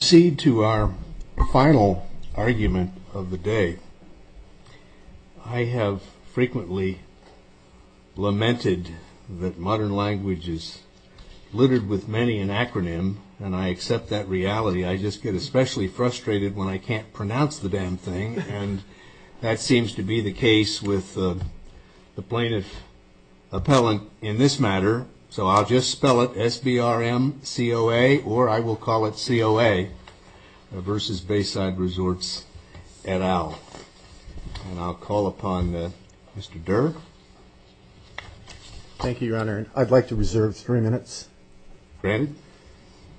To proceed to our final argument of the day, I have frequently lamented that modern language is littered with many an acronym, and I accept that reality. I just get especially frustrated when I can't pronounce the damn thing, and that seems to be the case with the plaintiff appellant in this matter. So I'll just spell it SBRMCOA, or I will call it COA, versus Bayside Resorts et al. And I'll call upon Mr. Durr. Thank you, Your Honor. I'd like to reserve three minutes. Granted.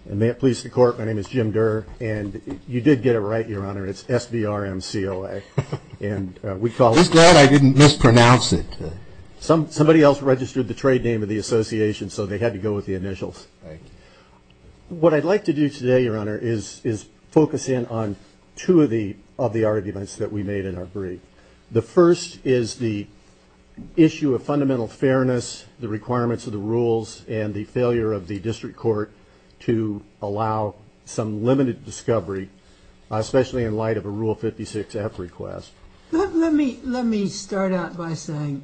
And may it please the Court, my name is Jim Durr, and you did get it right, Your Honor, it's SBRMCOA. I'm glad I didn't mispronounce it. Somebody else registered the trade name of the association, so they had to go with the initials. Thank you. What I'd like to do today, Your Honor, is focus in on two of the arguments that we made in our brief. The first is the issue of fundamental fairness, the requirements of the rules, and the failure of the district court to allow some limited discovery, especially in light of a Rule 56-F request. Let me start out by saying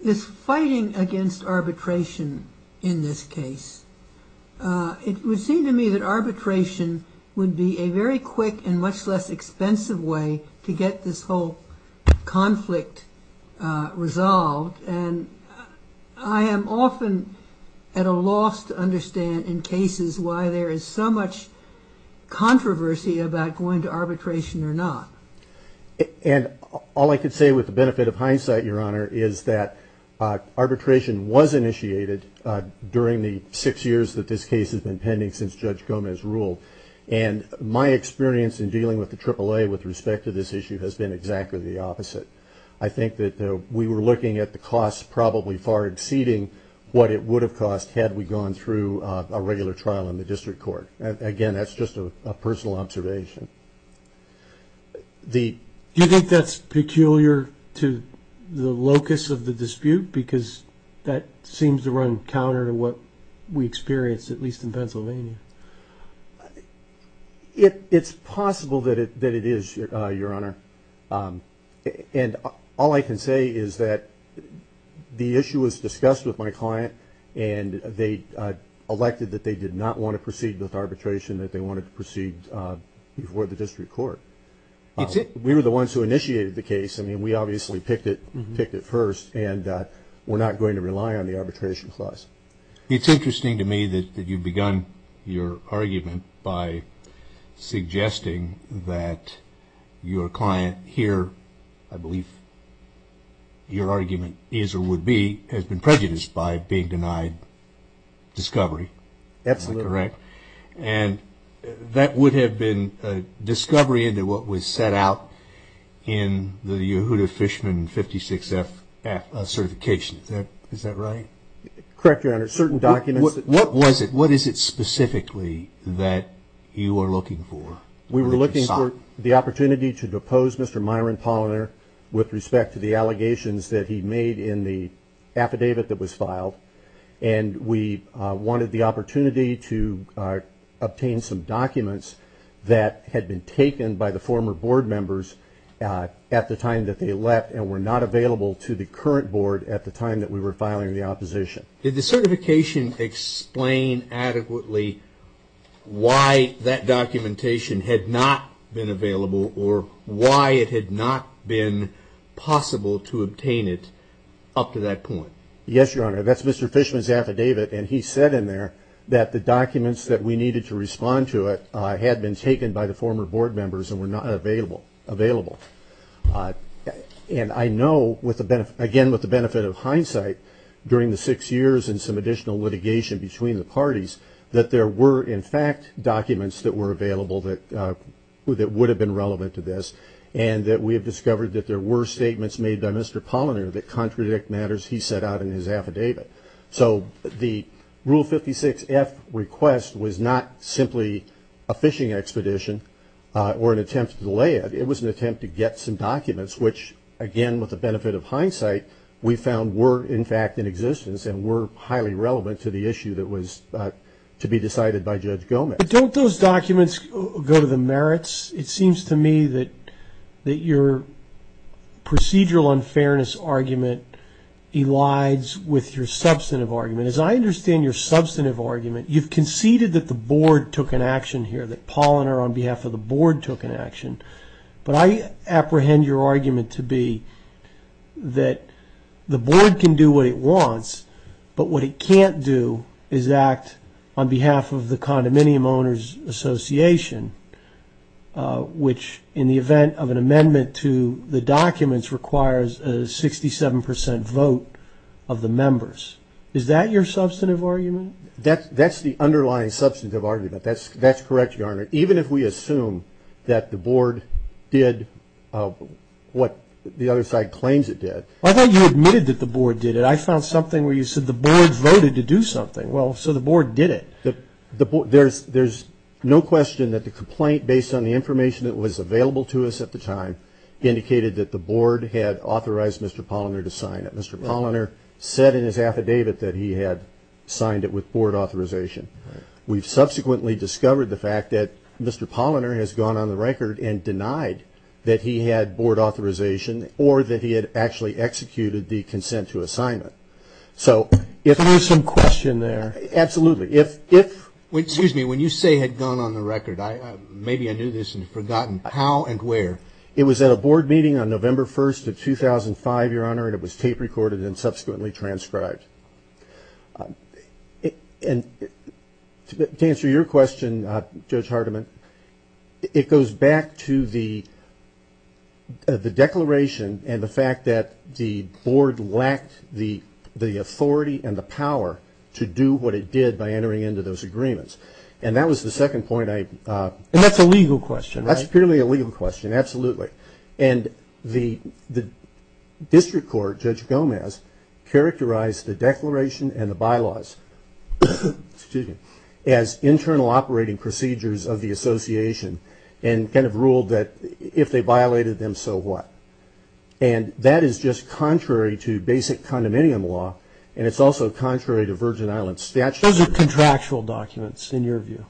this fighting against arbitration in this case, it would seem to me that arbitration would be a very quick and much less expensive way to get this whole conflict resolved. And I am often at a loss to understand in cases why there is so much controversy about going to arbitration or not. And all I can say with the benefit of hindsight, Your Honor, is that arbitration was initiated during the six years that this case has been pending since Judge Gomez ruled. And my experience in dealing with the AAA with respect to this issue has been exactly the opposite. I think that we were looking at the cost probably far exceeding what it would have cost had we gone through a regular trial in the district court. Again, that's just a personal observation. Do you think that's peculiar to the locus of the dispute? Because that seems to run counter to what we experienced, at least in Pennsylvania. It's possible that it is, Your Honor. And all I can say is that the issue was discussed with my client and they elected that they did not want to proceed with arbitration, that they wanted to proceed before the district court. We were the ones who initiated the case. I mean, we obviously picked it first and we're not going to rely on the arbitration clause. It's interesting to me that you've begun your argument by suggesting that your client here, I believe your argument is or would be, has been prejudiced by being denied discovery. Absolutely. Am I correct? And that would have been discovery into what was set out in the Yehuda Fishman 56F certification. Is that right? Correct, Your Honor. Certain documents... What was it? What is it specifically that you are looking for? We were looking for the opportunity to depose Mr. Myron Polliner with respect to the allegations that he made in the affidavit that was filed. And we wanted the opportunity to obtain some documents that had been taken by the former board members at the time that they left and were not available to the current board at the time that we were filing the opposition. Did the certification explain adequately why that documentation had not been available or why it had not been possible to obtain it up to that point? Yes, Your Honor. That's Mr. Fishman's affidavit and he said in there that the documents that we needed to respond to it had been taken by the former board members and were not available. And I know, again with the benefit of hindsight, during the six years and some additional litigation between the parties that there were in fact documents that were available that would have been relevant to this and that we have discovered that there were statements made by Mr. Polliner that contradict matters he set out in his affidavit. So the Rule 56-F request was not simply a fishing expedition or an attempt to delay it. It was an attempt to get some documents which, again with the benefit of hindsight, we found were in fact in existence and were highly relevant to the issue that was to be decided by Judge Gomez. But don't those documents go to the merits? It seems to me that your procedural unfairness argument elides with your substantive argument. As I understand your substantive argument, you've conceded that the board took an action here, that Polliner on behalf of the board took an action. But I apprehend your argument to be that the board can do what it wants, but what it can't do is act on behalf of the Condominium Owners Association, which in the event of an amendment to the documents requires a 67 percent vote of the members. Is that your substantive argument? That's the underlying substantive argument. That's correct, Your Honor. Even if we assume that the board did what the other side claims it did. I thought you admitted that the board did it. I found something where you said the board voted to do something. Well, so the board did it. There's no question that the complaint, based on the information that was available to us at the time, indicated that the board had authorized Mr. Polliner to sign it. Mr. Polliner said in his affidavit that he had signed it with board authorization. We've subsequently discovered the fact that Mr. Polliner has gone on the record and denied that he had board authorization or that he had actually executed the consent to assignment. So if there's some question there. Absolutely. Excuse me. When you say had gone on the record, maybe I knew this and had forgotten. How and where? It was at a board meeting on November 1st of 2005, Your Honor, and it was tape recorded and subsequently transcribed. And to answer your question, Judge Hardiman, it goes back to the declaration and the fact that the board lacked the authority and the power to do what it did by entering into those agreements. And that was the second point I... And that's a legal question, right? That's purely a legal question, absolutely. And the district court, Judge Gomez, characterized the declaration and the bylaws as internal operating procedures of the association and kind of ruled that if they violated them, so what? And that is just contrary to basic condominium law, and it's also contrary to Virgin Islands statute. Those are contractual documents, in your view.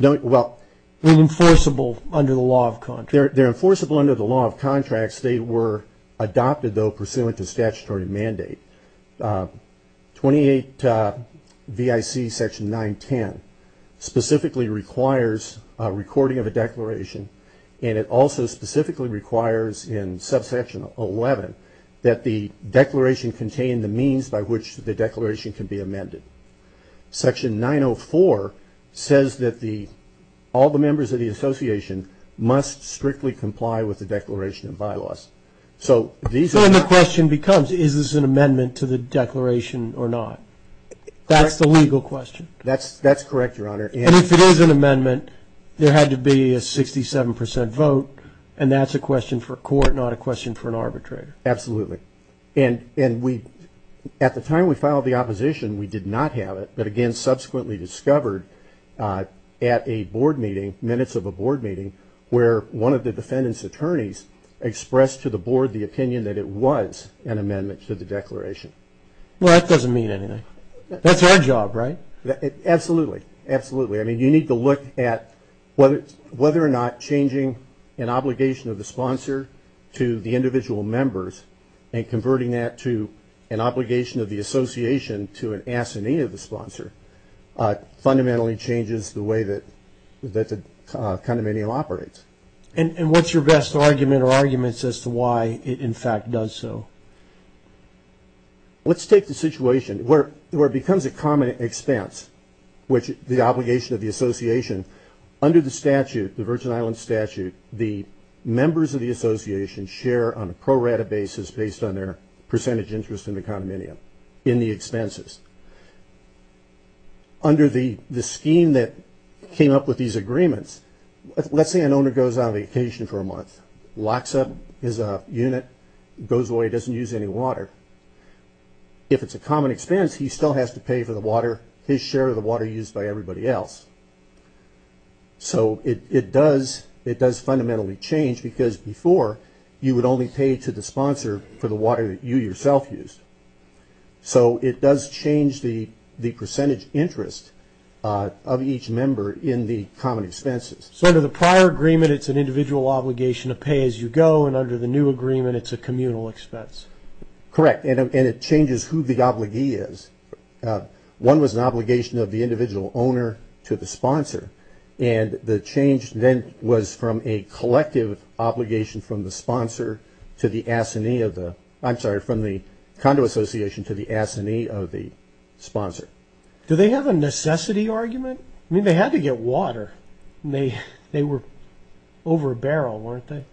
Well... They're enforceable under the law of contract. They're enforceable under the law of contracts. They were adopted, though, pursuant to statutory mandate. 28 V.I.C. section 910 specifically requires a recording of a declaration, and it also specifically requires in subsection 11 that the declaration contain the means by which the declaration can be amended. Section 904 says that all the members of the association must strictly comply with the declaration and bylaws. So these are... So then the question becomes, is this an amendment to the declaration or not? That's the legal question. That's correct, Your Honor, and... And if it is an amendment, there had to be a 67 percent vote, and that's a question for court, not a question for an arbitrator. Absolutely. And we... At the time we filed the opposition, we did not have it, but again subsequently discovered at a board meeting, minutes of a board meeting, where one of the defendant's attorneys expressed to the board the opinion that it was an amendment to the declaration. Well, that doesn't mean anything. That's our job, right? Absolutely. Absolutely. I mean, you need to look at whether or not changing an obligation of the sponsor to the individual members and converting that to an obligation of the association to an assignee of the sponsor fundamentally changes the way that the condominium operates. And what's your best argument or arguments as to why it, in fact, does so? Let's take the situation where it becomes a common expense, which the obligation of the association under the statute, the Virgin Islands statute, the members of the association share on a pro rata basis based on their percentage interest in the condominium in the expenses. Under the scheme that came up with these agreements, let's say an owner goes on vacation for a month, locks up his unit, goes away, doesn't use any water. If it's a common expense, he still has to pay for the water, his share of the water used by everybody else. So it does fundamentally change because before you would only pay to the sponsor for the water that you yourself used. So it does change the percentage interest of each member in the common expenses. So under the prior agreement, it's an individual obligation to pay as you go, and under the new agreement, it's a communal expense. Correct, and it changes who the obligee is. One was an obligation of the individual owner to the sponsor, and the change then was from a collective obligation from the sponsor to the assignee of the – I'm sorry, from the condo association to the assignee of the sponsor. Do they have a necessity argument? I mean, they had to get water, and they were over a barrel, weren't they?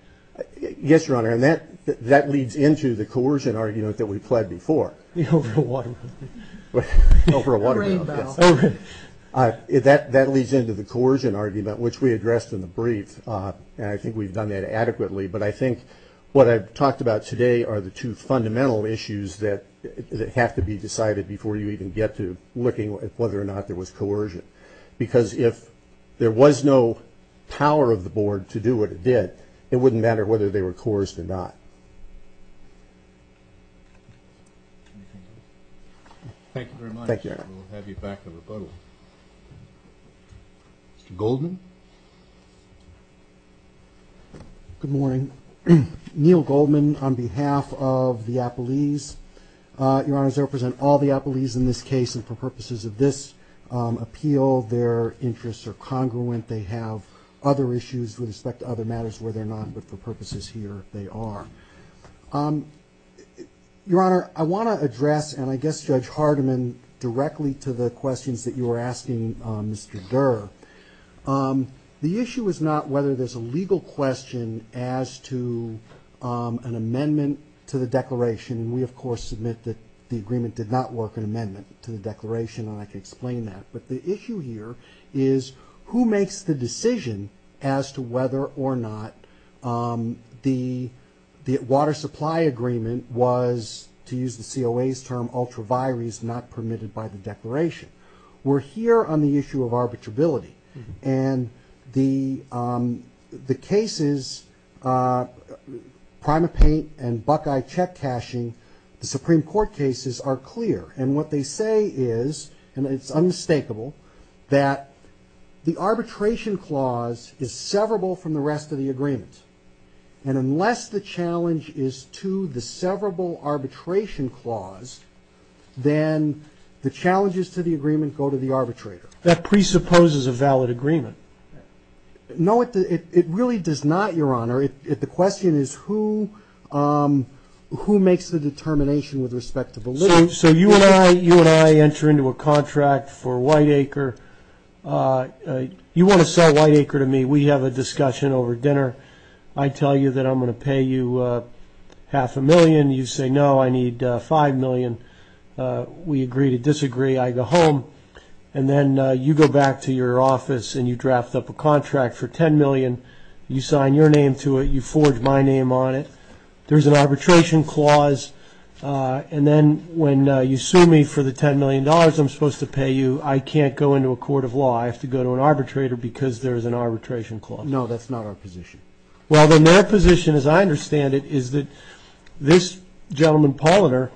Yes, Your Honor, and that leads into the coercion argument that we pled before. The over a water barrel. The over a water barrel, yes. That leads into the coercion argument, which we addressed in the brief, and I think we've done that adequately, but I think what I've talked about today are the two fundamental issues that have to be decided before you even get to looking at whether or not there was coercion because if there was no power of the board to do what it did, it wouldn't matter whether they were coerced or not. Thank you very much. Thank you, Your Honor. We'll have you back for rebuttal. Mr. Goldman? Good morning. Neil Goldman on behalf of the Applees. Your Honor, I represent all the Applees in this case, and for purposes of this appeal, their interests are congruent. They have other issues with respect to other matters where they're not, but for purposes here, they are. Your Honor, I want to address, and I guess Judge Hardiman, directly to the questions that you were asking Mr. Durr. The issue is not whether there's a legal question as to an amendment to the declaration, and we, of course, submit that the agreement did not work, an amendment to the declaration, and I can explain that. But the issue here is who makes the decision as to whether or not the water supply agreement was, to use the COA's term, ultra vires not permitted by the declaration. We're here on the issue of arbitrability, and the cases, prima paint and buckeye check cashing, the Supreme Court cases are clear. And what they say is, and it's unmistakable, that the arbitration clause is severable from the rest of the agreement. And unless the challenge is to the severable arbitration clause, then the challenges to the agreement go to the arbitrator. That presupposes a valid agreement. No, it really does not, Your Honor. The question is who makes the determination with respect to validity. So you and I enter into a contract for Whiteacre. You want to sell Whiteacre to me. We have a discussion over dinner. I tell you that I'm going to pay you half a million. You say, no, I need $5 million. We agree to disagree. I go home. And then you go back to your office and you draft up a contract for $10 million. You sign your name to it. You forge my name on it. There's an arbitration clause. And then when you sue me for the $10 million I'm supposed to pay you, I can't go into a court of law. I have to go to an arbitrator because there's an arbitration clause. No, that's not our position. Well, then their position, as I understand it, is that this gentleman Polliner,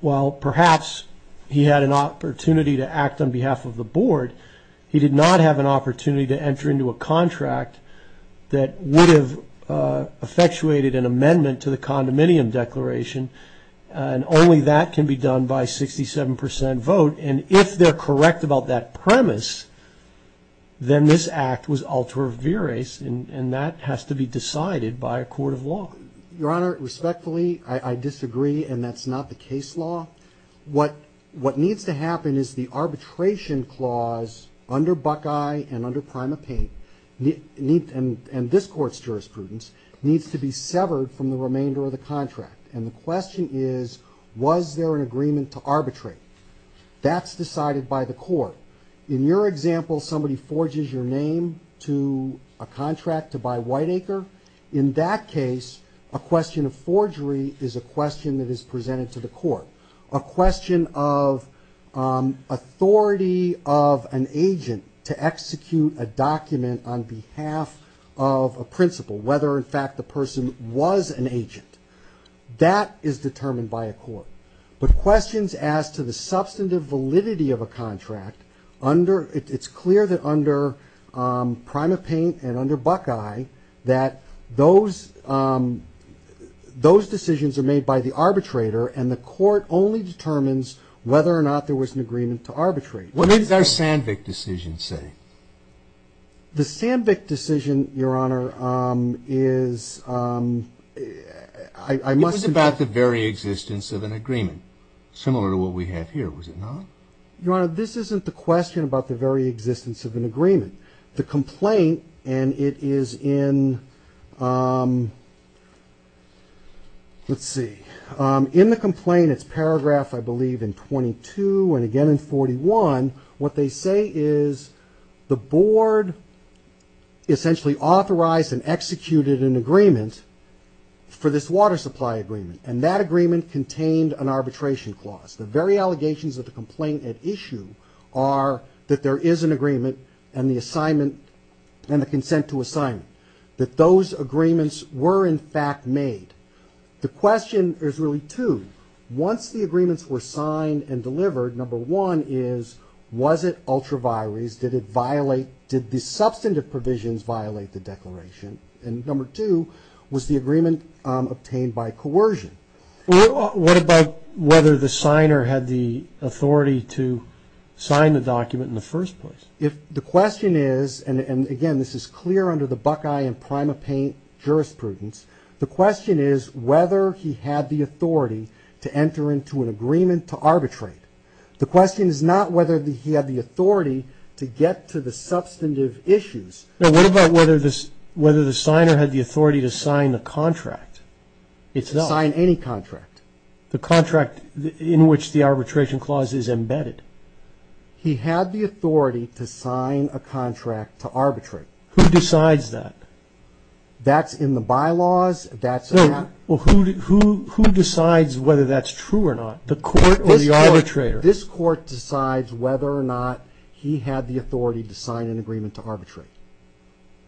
while perhaps he had an opportunity to act on behalf of the board, he did not have an opportunity to enter into a contract that would have effectuated an amendment to the condominium declaration, and only that can be done by a 67% vote. And if they're correct about that premise, then this act was ultra viris, and that has to be decided by a court of law. Your Honor, respectfully, I disagree, and that's not the case law. What needs to happen is the arbitration clause under Buckeye and under Prima jurisprudence needs to be severed from the remainder of the contract. And the question is, was there an agreement to arbitrate? That's decided by the court. In your example, somebody forges your name to a contract to buy Whiteacre, in that case a question of forgery is a question that is presented to the court, a question of authority of an agent to execute a document on behalf of a principal, whether in fact the person was an agent. That is determined by a court. But questions as to the substantive validity of a contract, it's clear that under Prima Paint and under Buckeye that those decisions are made by the arbitrator, and the court only determines whether or not there was an agreement to arbitrate. What did their Sandvik decision say? The Sandvik decision, Your Honor, is ‑‑ It was about the very existence of an agreement, similar to what we have here, was it not? Your Honor, this isn't the question about the very existence of an agreement. The complaint, and it is in, let's see, in the complaint, it's paragraph, I believe, in 22, and again in 41, what they say is the board essentially authorized and executed an agreement for this water supply agreement, and that agreement contained an arbitration clause. The very allegations of the complaint at issue are that there is an agreement and the consent to assignment, that those agreements were in fact made. The question is really two. Once the agreements were signed and delivered, number one is, was it ultra vires? Did it violate, did the substantive provisions violate the declaration? And number two, was the agreement obtained by coercion? What about whether the signer had the authority to sign the document in the first place? If the question is, and again, this is clear under the Buckeye and Prima Paint jurisprudence, the question is whether he had the authority to enter into an agreement to arbitrate. The question is not whether he had the authority to get to the substantive issues. What about whether the signer had the authority to sign the contract? To sign any contract. The contract in which the arbitration clause is embedded. He had the authority to sign a contract to arbitrate. Who decides that? That's in the bylaws. Who decides whether that's true or not? The court or the arbitrator? This court decides whether or not he had the authority to sign an agreement to arbitrate.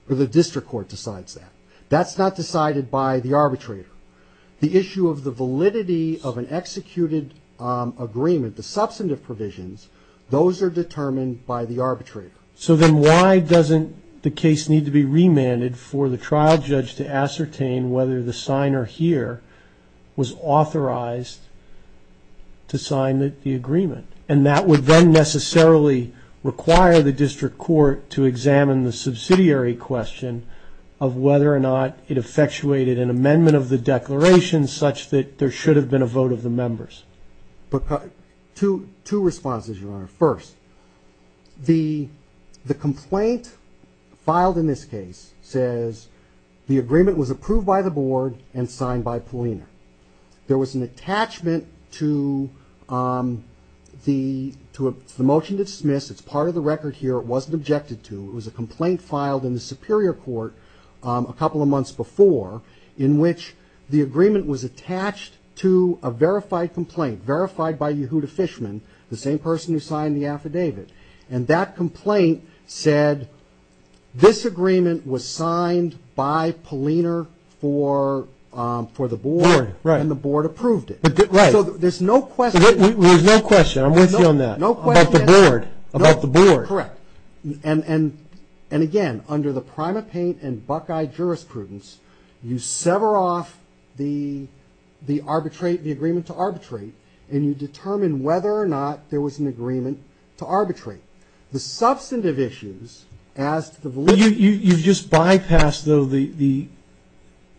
The district court decides that. That's not decided by the arbitrator. The issue of the validity of an executed agreement, the substantive provisions, those are determined by the arbitrator. So then why doesn't the case need to be remanded for the trial judge to ascertain whether the signer here was authorized to sign the agreement? And that would then necessarily require the district court to examine the subsidiary question of whether or not it effectuated an amendment of the declaration such that there should have been a vote of the members. Two responses, Your Honor. First, the complaint filed in this case says the agreement was approved by the board and signed by Polina. There was an attachment to the motion to dismiss. It's part of the record here. It wasn't objected to. It was a complaint filed in the superior court a couple of months before in which the agreement was attached to a verified complaint, verified by Yehuda Fishman, the same person who signed the affidavit. And that complaint said this agreement was signed by Polina for the board. Right. And the board approved it. Right. So there's no question. There's no question. I'm with you on that. No question. About the board. About the board. Correct. And, again, under the Primate Paint and Buckeye jurisprudence, you sever off the arbitrate, the agreement to arbitrate, and you determine whether or not there was an agreement to arbitrate. The substantive issues as to the validity of the agreement. You've just bypassed, though, the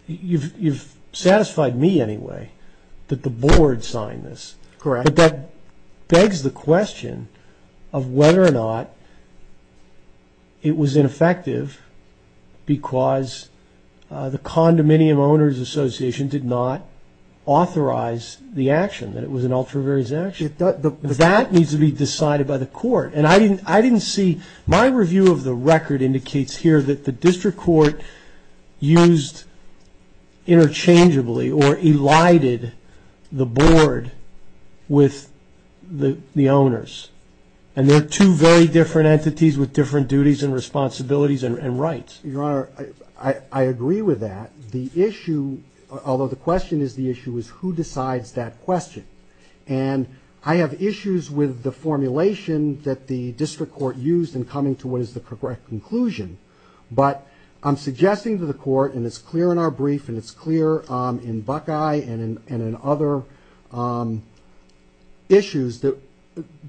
you've satisfied me anyway that the board signed this. Correct. But that begs the question of whether or not it was ineffective because the Condominium Owners Association did not authorize the action, that it was an ultra-variant action. That needs to be decided by the court. And I didn't see my review of the record indicates here that the district court used interchangeably or elided the board with the owners. And they're two very different entities with different duties and responsibilities and rights. Your Honor, I agree with that. The issue, although the question is the issue, is who decides that question. And I have issues with the formulation that the district court used in coming to what is the correct conclusion. But I'm suggesting to the court, and it's clear in our brief and it's clear in Buckeye and in other issues, that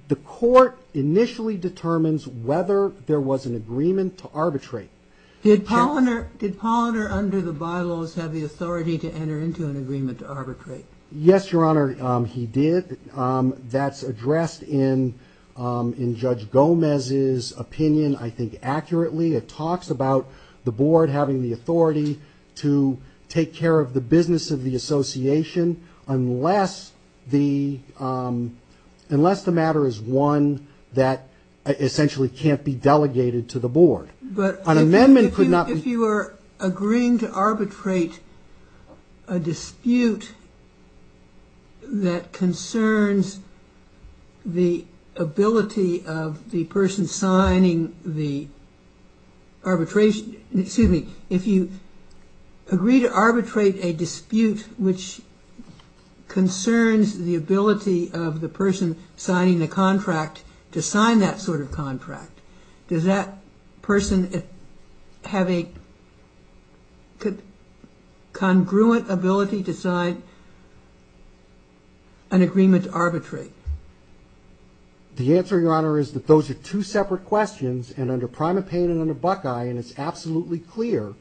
the court initially determines whether there was an agreement to arbitrate. Did Polliner under the bylaws have the authority to enter into an agreement to arbitrate? Yes, Your Honor, he did. That's addressed in Judge Gomez's opinion, I think, accurately. It talks about the board having the authority to take care of the business of the association unless the matter is one that essentially can't be delegated to the board. But if you are agreeing to arbitrate a dispute that concerns the ability of the person signing the arbitration, excuse me, if you agree to arbitrate a dispute which concerns the ability of the person signing the contract to sign that sort of contract, does that person have a congruent ability to sign an agreement to arbitrate? The answer, Your Honor, is that those are two separate questions. And under Primate Payne and under Buckeye, and it's absolutely clear,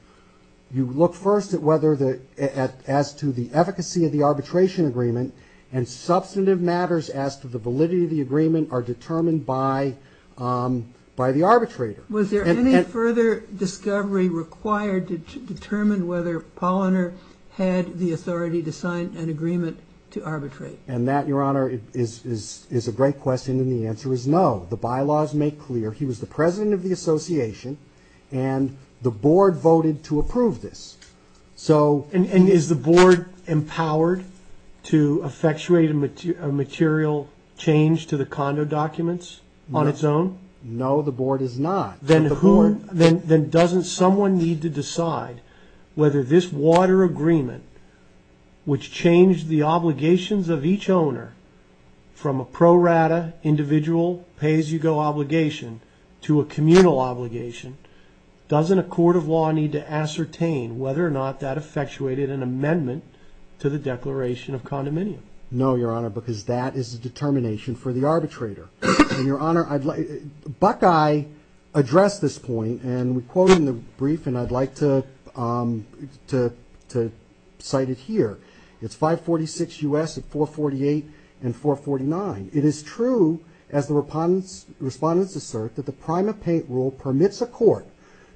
you look first as to the efficacy of the arbitration agreement and substantive matters as to the validity of the agreement are determined by the arbitrator. Was there any further discovery required to determine whether Polliner had the authority to sign an agreement to arbitrate? And that, Your Honor, is a great question, and the answer is no. The bylaws make clear he was the president of the association, and the board voted to approve this. And is the board empowered to effectuate a material change to the condo documents on its own? No, the board is not. Then doesn't someone need to decide whether this water agreement, which changed the obligations of each owner from a pro rata individual pay-as-you-go obligation to a communal obligation, doesn't a court of law need to ascertain whether or not that effectuated an amendment to the Declaration of Condominium? No, Your Honor, because that is the determination for the arbitrator. And, Your Honor, Buckeye addressed this point, and we quote in the brief, and I'd like to cite it here. It's 546 U.S. of 448 and 449. It is true, as the respondents assert, that the prime of paint rule permits a court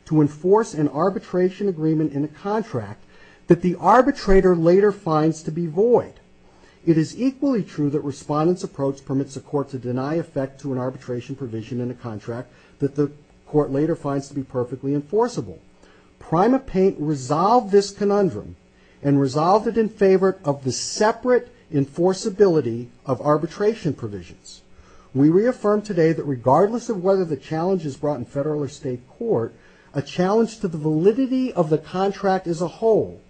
to enforce an arbitration agreement in a contract that the arbitrator later finds to be void. It is equally true that respondents' approach permits a court to deny effect to an arbitration provision in a contract that the court later finds to be void. Prime of paint resolved this conundrum and resolved it in favor of the separate enforceability of arbitration provisions. We reaffirm today that regardless of whether the challenge is brought in federal or state court, a challenge to the validity of the contract as a whole,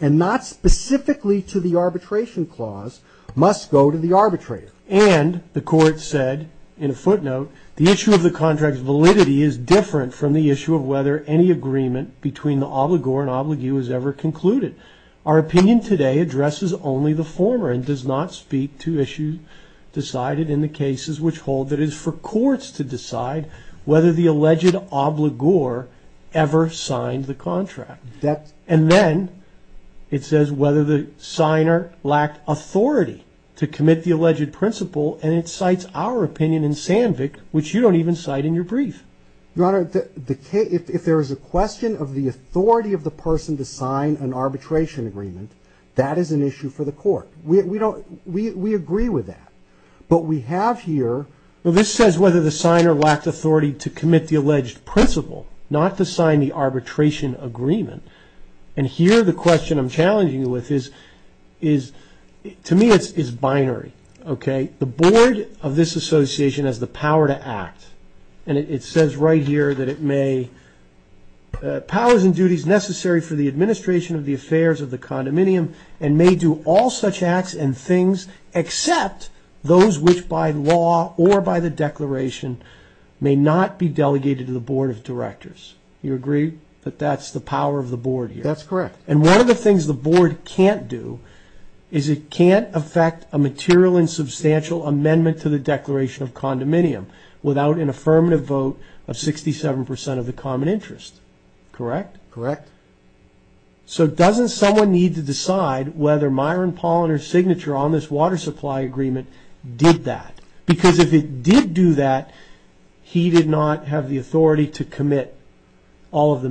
and not specifically to the arbitration clause, must go to the arbitrator. And the court said, in a footnote, the issue of the contract's validity is different from the issue of whether any agreement between the obligor and obligue is ever concluded. Our opinion today addresses only the former and does not speak to issues decided in the cases which hold that it is for courts to decide whether the alleged obligor ever signed the contract. And then it says whether the signer lacked authority to commit the alleged principle, and it cites our opinion in Sandvik, which you don't even cite in your brief. Your Honor, if there is a question of the authority of the person to sign an arbitration agreement, that is an issue for the court. We agree with that. But we have here. Well, this says whether the signer lacked authority to commit the alleged principle, not to sign the arbitration agreement. And here the question I'm challenging you with is, to me, it's binary, okay? The board of this association has the power to act. And it says right here that it may, powers and duties necessary for the administration of the affairs of the condominium and may do all such acts and things except those which by law or by the declaration may not be delegated to the board of directors. You agree that that's the power of the board here? That's correct. And one of the things the board can't do is it can't affect a material and substantial amendment to the declaration of condominium without an affirmative vote of 67% of the common interest, correct? Correct. So doesn't someone need to decide whether Myron Polliner's signature on this water supply agreement did that? Because if it did do that, he did not have the authority to commit all of the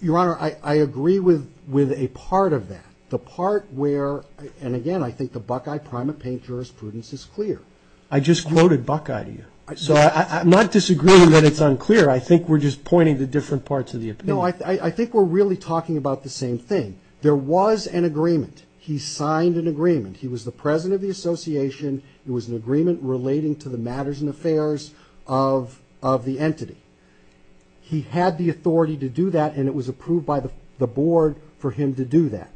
Your Honor, I agree with a part of that. The part where, and again, I think the Buckeye, primate paint jurisprudence is clear. I just quoted Buckeye to you. So I'm not disagreeing that it's unclear. I think we're just pointing to different parts of the opinion. No, I think we're really talking about the same thing. There was an agreement. He signed an agreement. He was the president of the association. It was an agreement relating to the matters and affairs of the entity. He had the authority to do that and it was approved by the board for him to do that.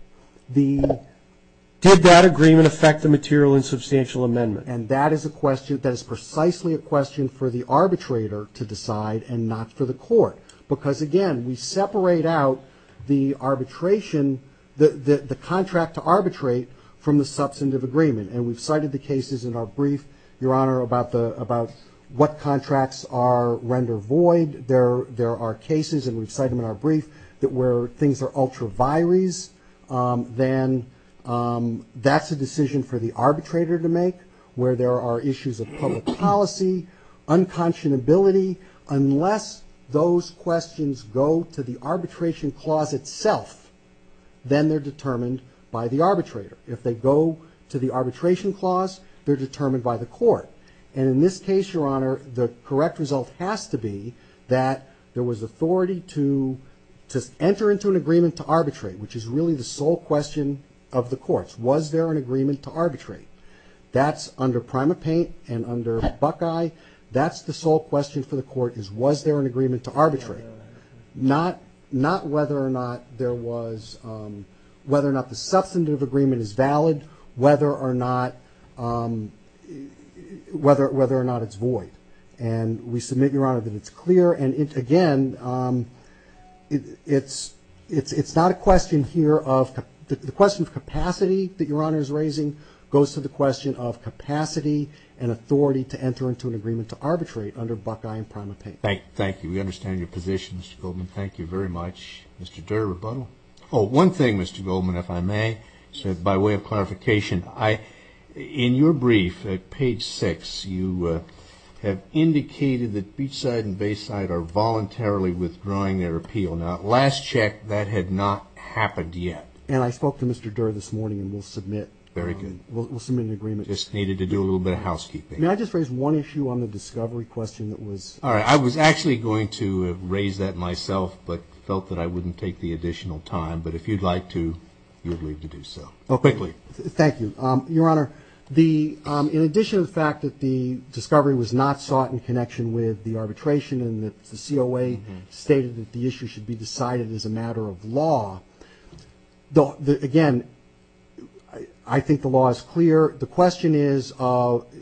Did that agreement affect the material and substantial amendment? And that is a question that is precisely a question for the arbitrator to decide and not for the court. Because again, we separate out the arbitration, the contract to arbitrate from the substantive agreement. And we've cited the cases in our brief, Your Honor, about what contracts render void. There are cases, and we've cited them in our brief, that where things are ultra vires, then that's a decision for the arbitrator to make, where there are issues of public policy, unconscionability. Unless those questions go to the arbitration clause itself, then they're determined by the arbitrator. If they go to the arbitration clause, they're determined by the court. And in this case, Your Honor, the correct result has to be that there was authority to enter into an agreement to arbitrate, which is really the sole question of the courts. Was there an agreement to arbitrate? That's under Primate Paint and under Buckeye. That's the sole question for the court, is was there an agreement to arbitrate? Not whether or not there was, whether or not the substantive agreement is valid, whether or not it's void. And we submit, Your Honor, that it's clear. And again, it's not a question here of, the question of capacity that Your Honor is raising goes to the question of capacity and authority to enter into an agreement to arbitrate under Buckeye and Primate Paint. Thank you. We understand your position, Mr. Goldman. Thank you very much. Mr. Durer, rebuttal? Oh, one thing, Mr. Goldman, if I may, by way of clarification, in your brief at page 6, you have indicated that Beachside and Bayside are voluntarily withdrawing their appeal. Now, last check, that had not happened yet. And I spoke to Mr. Durer this morning, and we'll submit. Very good. We'll submit an agreement. Just needed to do a little bit of housekeeping. May I just raise one issue on the discovery question that was? All right. I was actually going to raise that myself, but felt that I wouldn't take the additional time. But if you'd like to, you're free to do so. Quickly. Thank you. Your Honor, in addition to the fact that the discovery was not sought in connection with the arbitration and that the COA stated that the issue should be decided as a matter of law, again, I think the law is clear. The question is,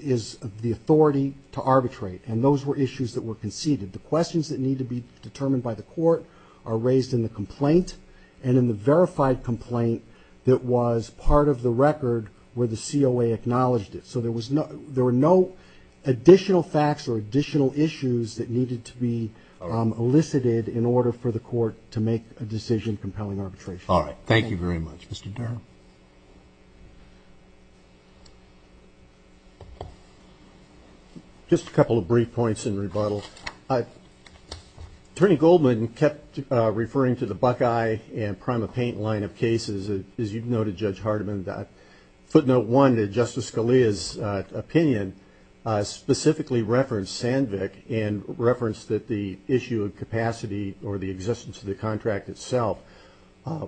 is the authority to arbitrate? And those were issues that were conceded. The questions that need to be determined by the court are raised in the complaint and in the verified complaint that was part of the record where the COA acknowledged it. So there were no additional facts or additional issues that needed to be elicited in order for the court to make a decision compelling arbitration. All right. Thank you very much. Mr. Durer. Just a couple of brief points in rebuttal. Attorney Goldman kept referring to the Buckeye and PrimaPaint line of cases. As you've noted, Judge Hardiman, footnote one, that Justice Scalia's opinion specifically referenced Sandvik and referenced that the issue of capacity or the existence of the contract itself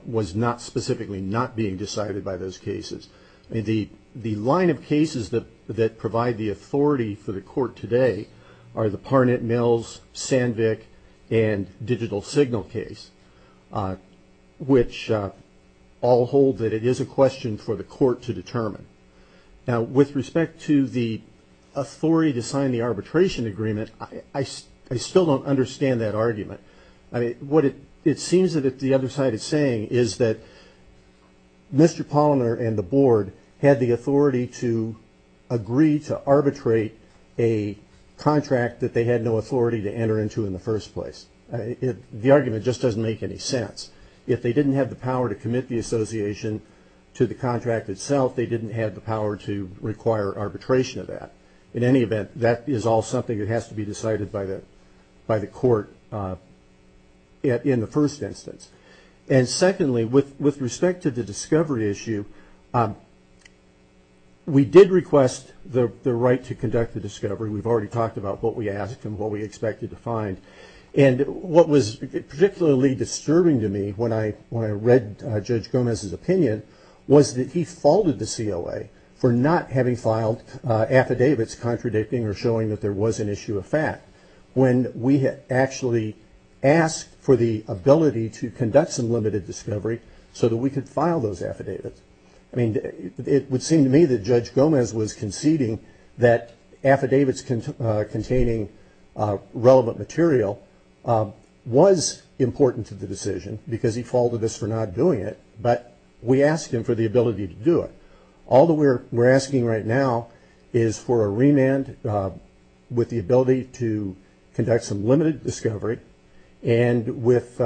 was not specifically not being decided by those cases. The line of cases that provide the authority for the court today are the Parnett-Mills, Sandvik, and Digital Signal case, which all hold that it is a question for the court to determine. Now, with respect to the authority to sign the arbitration agreement, I still don't understand that argument. What it seems that the other side is saying is that Mr. Polliner and the board had the authority to agree to arbitrate a contract that they had no authority to enter into in the first place. The argument just doesn't make any sense. If they didn't have the power to commit the association to the contract itself, they didn't have the power to require arbitration of that. In any event, that is all something that has to be decided by the court in the first instance. Secondly, with respect to the discovery issue, we did request the right to conduct the discovery. We've already talked about what we asked and what we expected to find. What was particularly disturbing to me when I read Judge Gomez's opinion was that he faulted the COA for not having filed affidavits when we had actually asked for the ability to conduct some limited discovery so that we could file those affidavits. It would seem to me that Judge Gomez was conceding that affidavits containing relevant material was important to the decision because he faulted us for not doing it, but we asked him for the ability to do it. All that we're asking right now is for a remand with the ability to conduct some limited discovery and with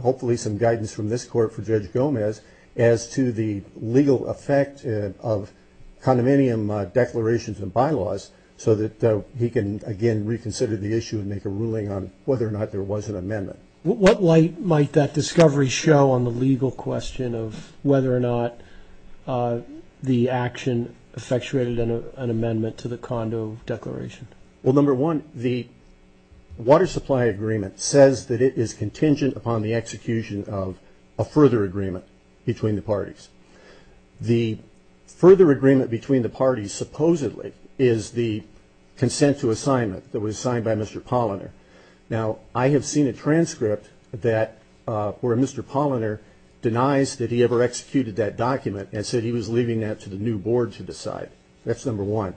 hopefully some guidance from this court for Judge Gomez as to the legal effect of condominium declarations and bylaws so that he can again reconsider the issue and make a ruling on whether or not there was an amendment. What light might that discovery show on the legal question of whether or not the action effectuated an amendment to the condo declaration? Well, number one, the water supply agreement says that it is contingent upon the execution of a further agreement between the parties. The further agreement between the parties, supposedly, is the consent to assignment that was signed by Mr. Polliner. Now, I have seen a transcript where Mr. Polliner denies that he ever executed that document and said he was leaving that to the new board to decide. That's number one.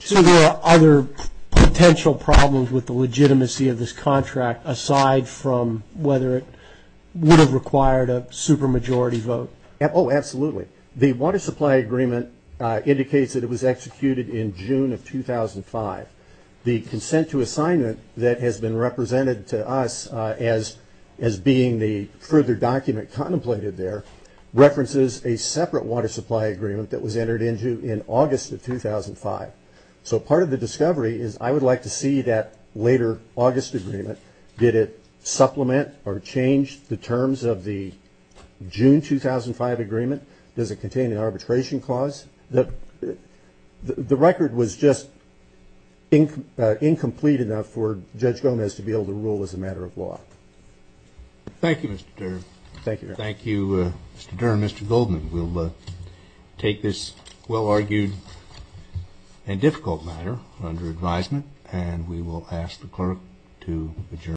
So there are other potential problems with the legitimacy of this contract aside from whether it would have required a supermajority vote? Oh, absolutely. The water supply agreement indicates that it was executed in June of 2005. The consent to assignment that has been represented to us as being the further document contemplated there references a separate water supply agreement that was entered into in August of 2005. So part of the discovery is I would like to see that later August agreement. Did it supplement or change the terms of the June 2005 agreement? Does it contain an arbitration clause? The record was just incomplete enough for Judge Gomez to be able to rule as a matter of law. Thank you, Mr. Dern. Thank you, Your Honor. Thank you, Mr. Dern and Mr. Goldman. We'll take this well-argued and difficult matter under advisement and we will ask the clerk to adjourn.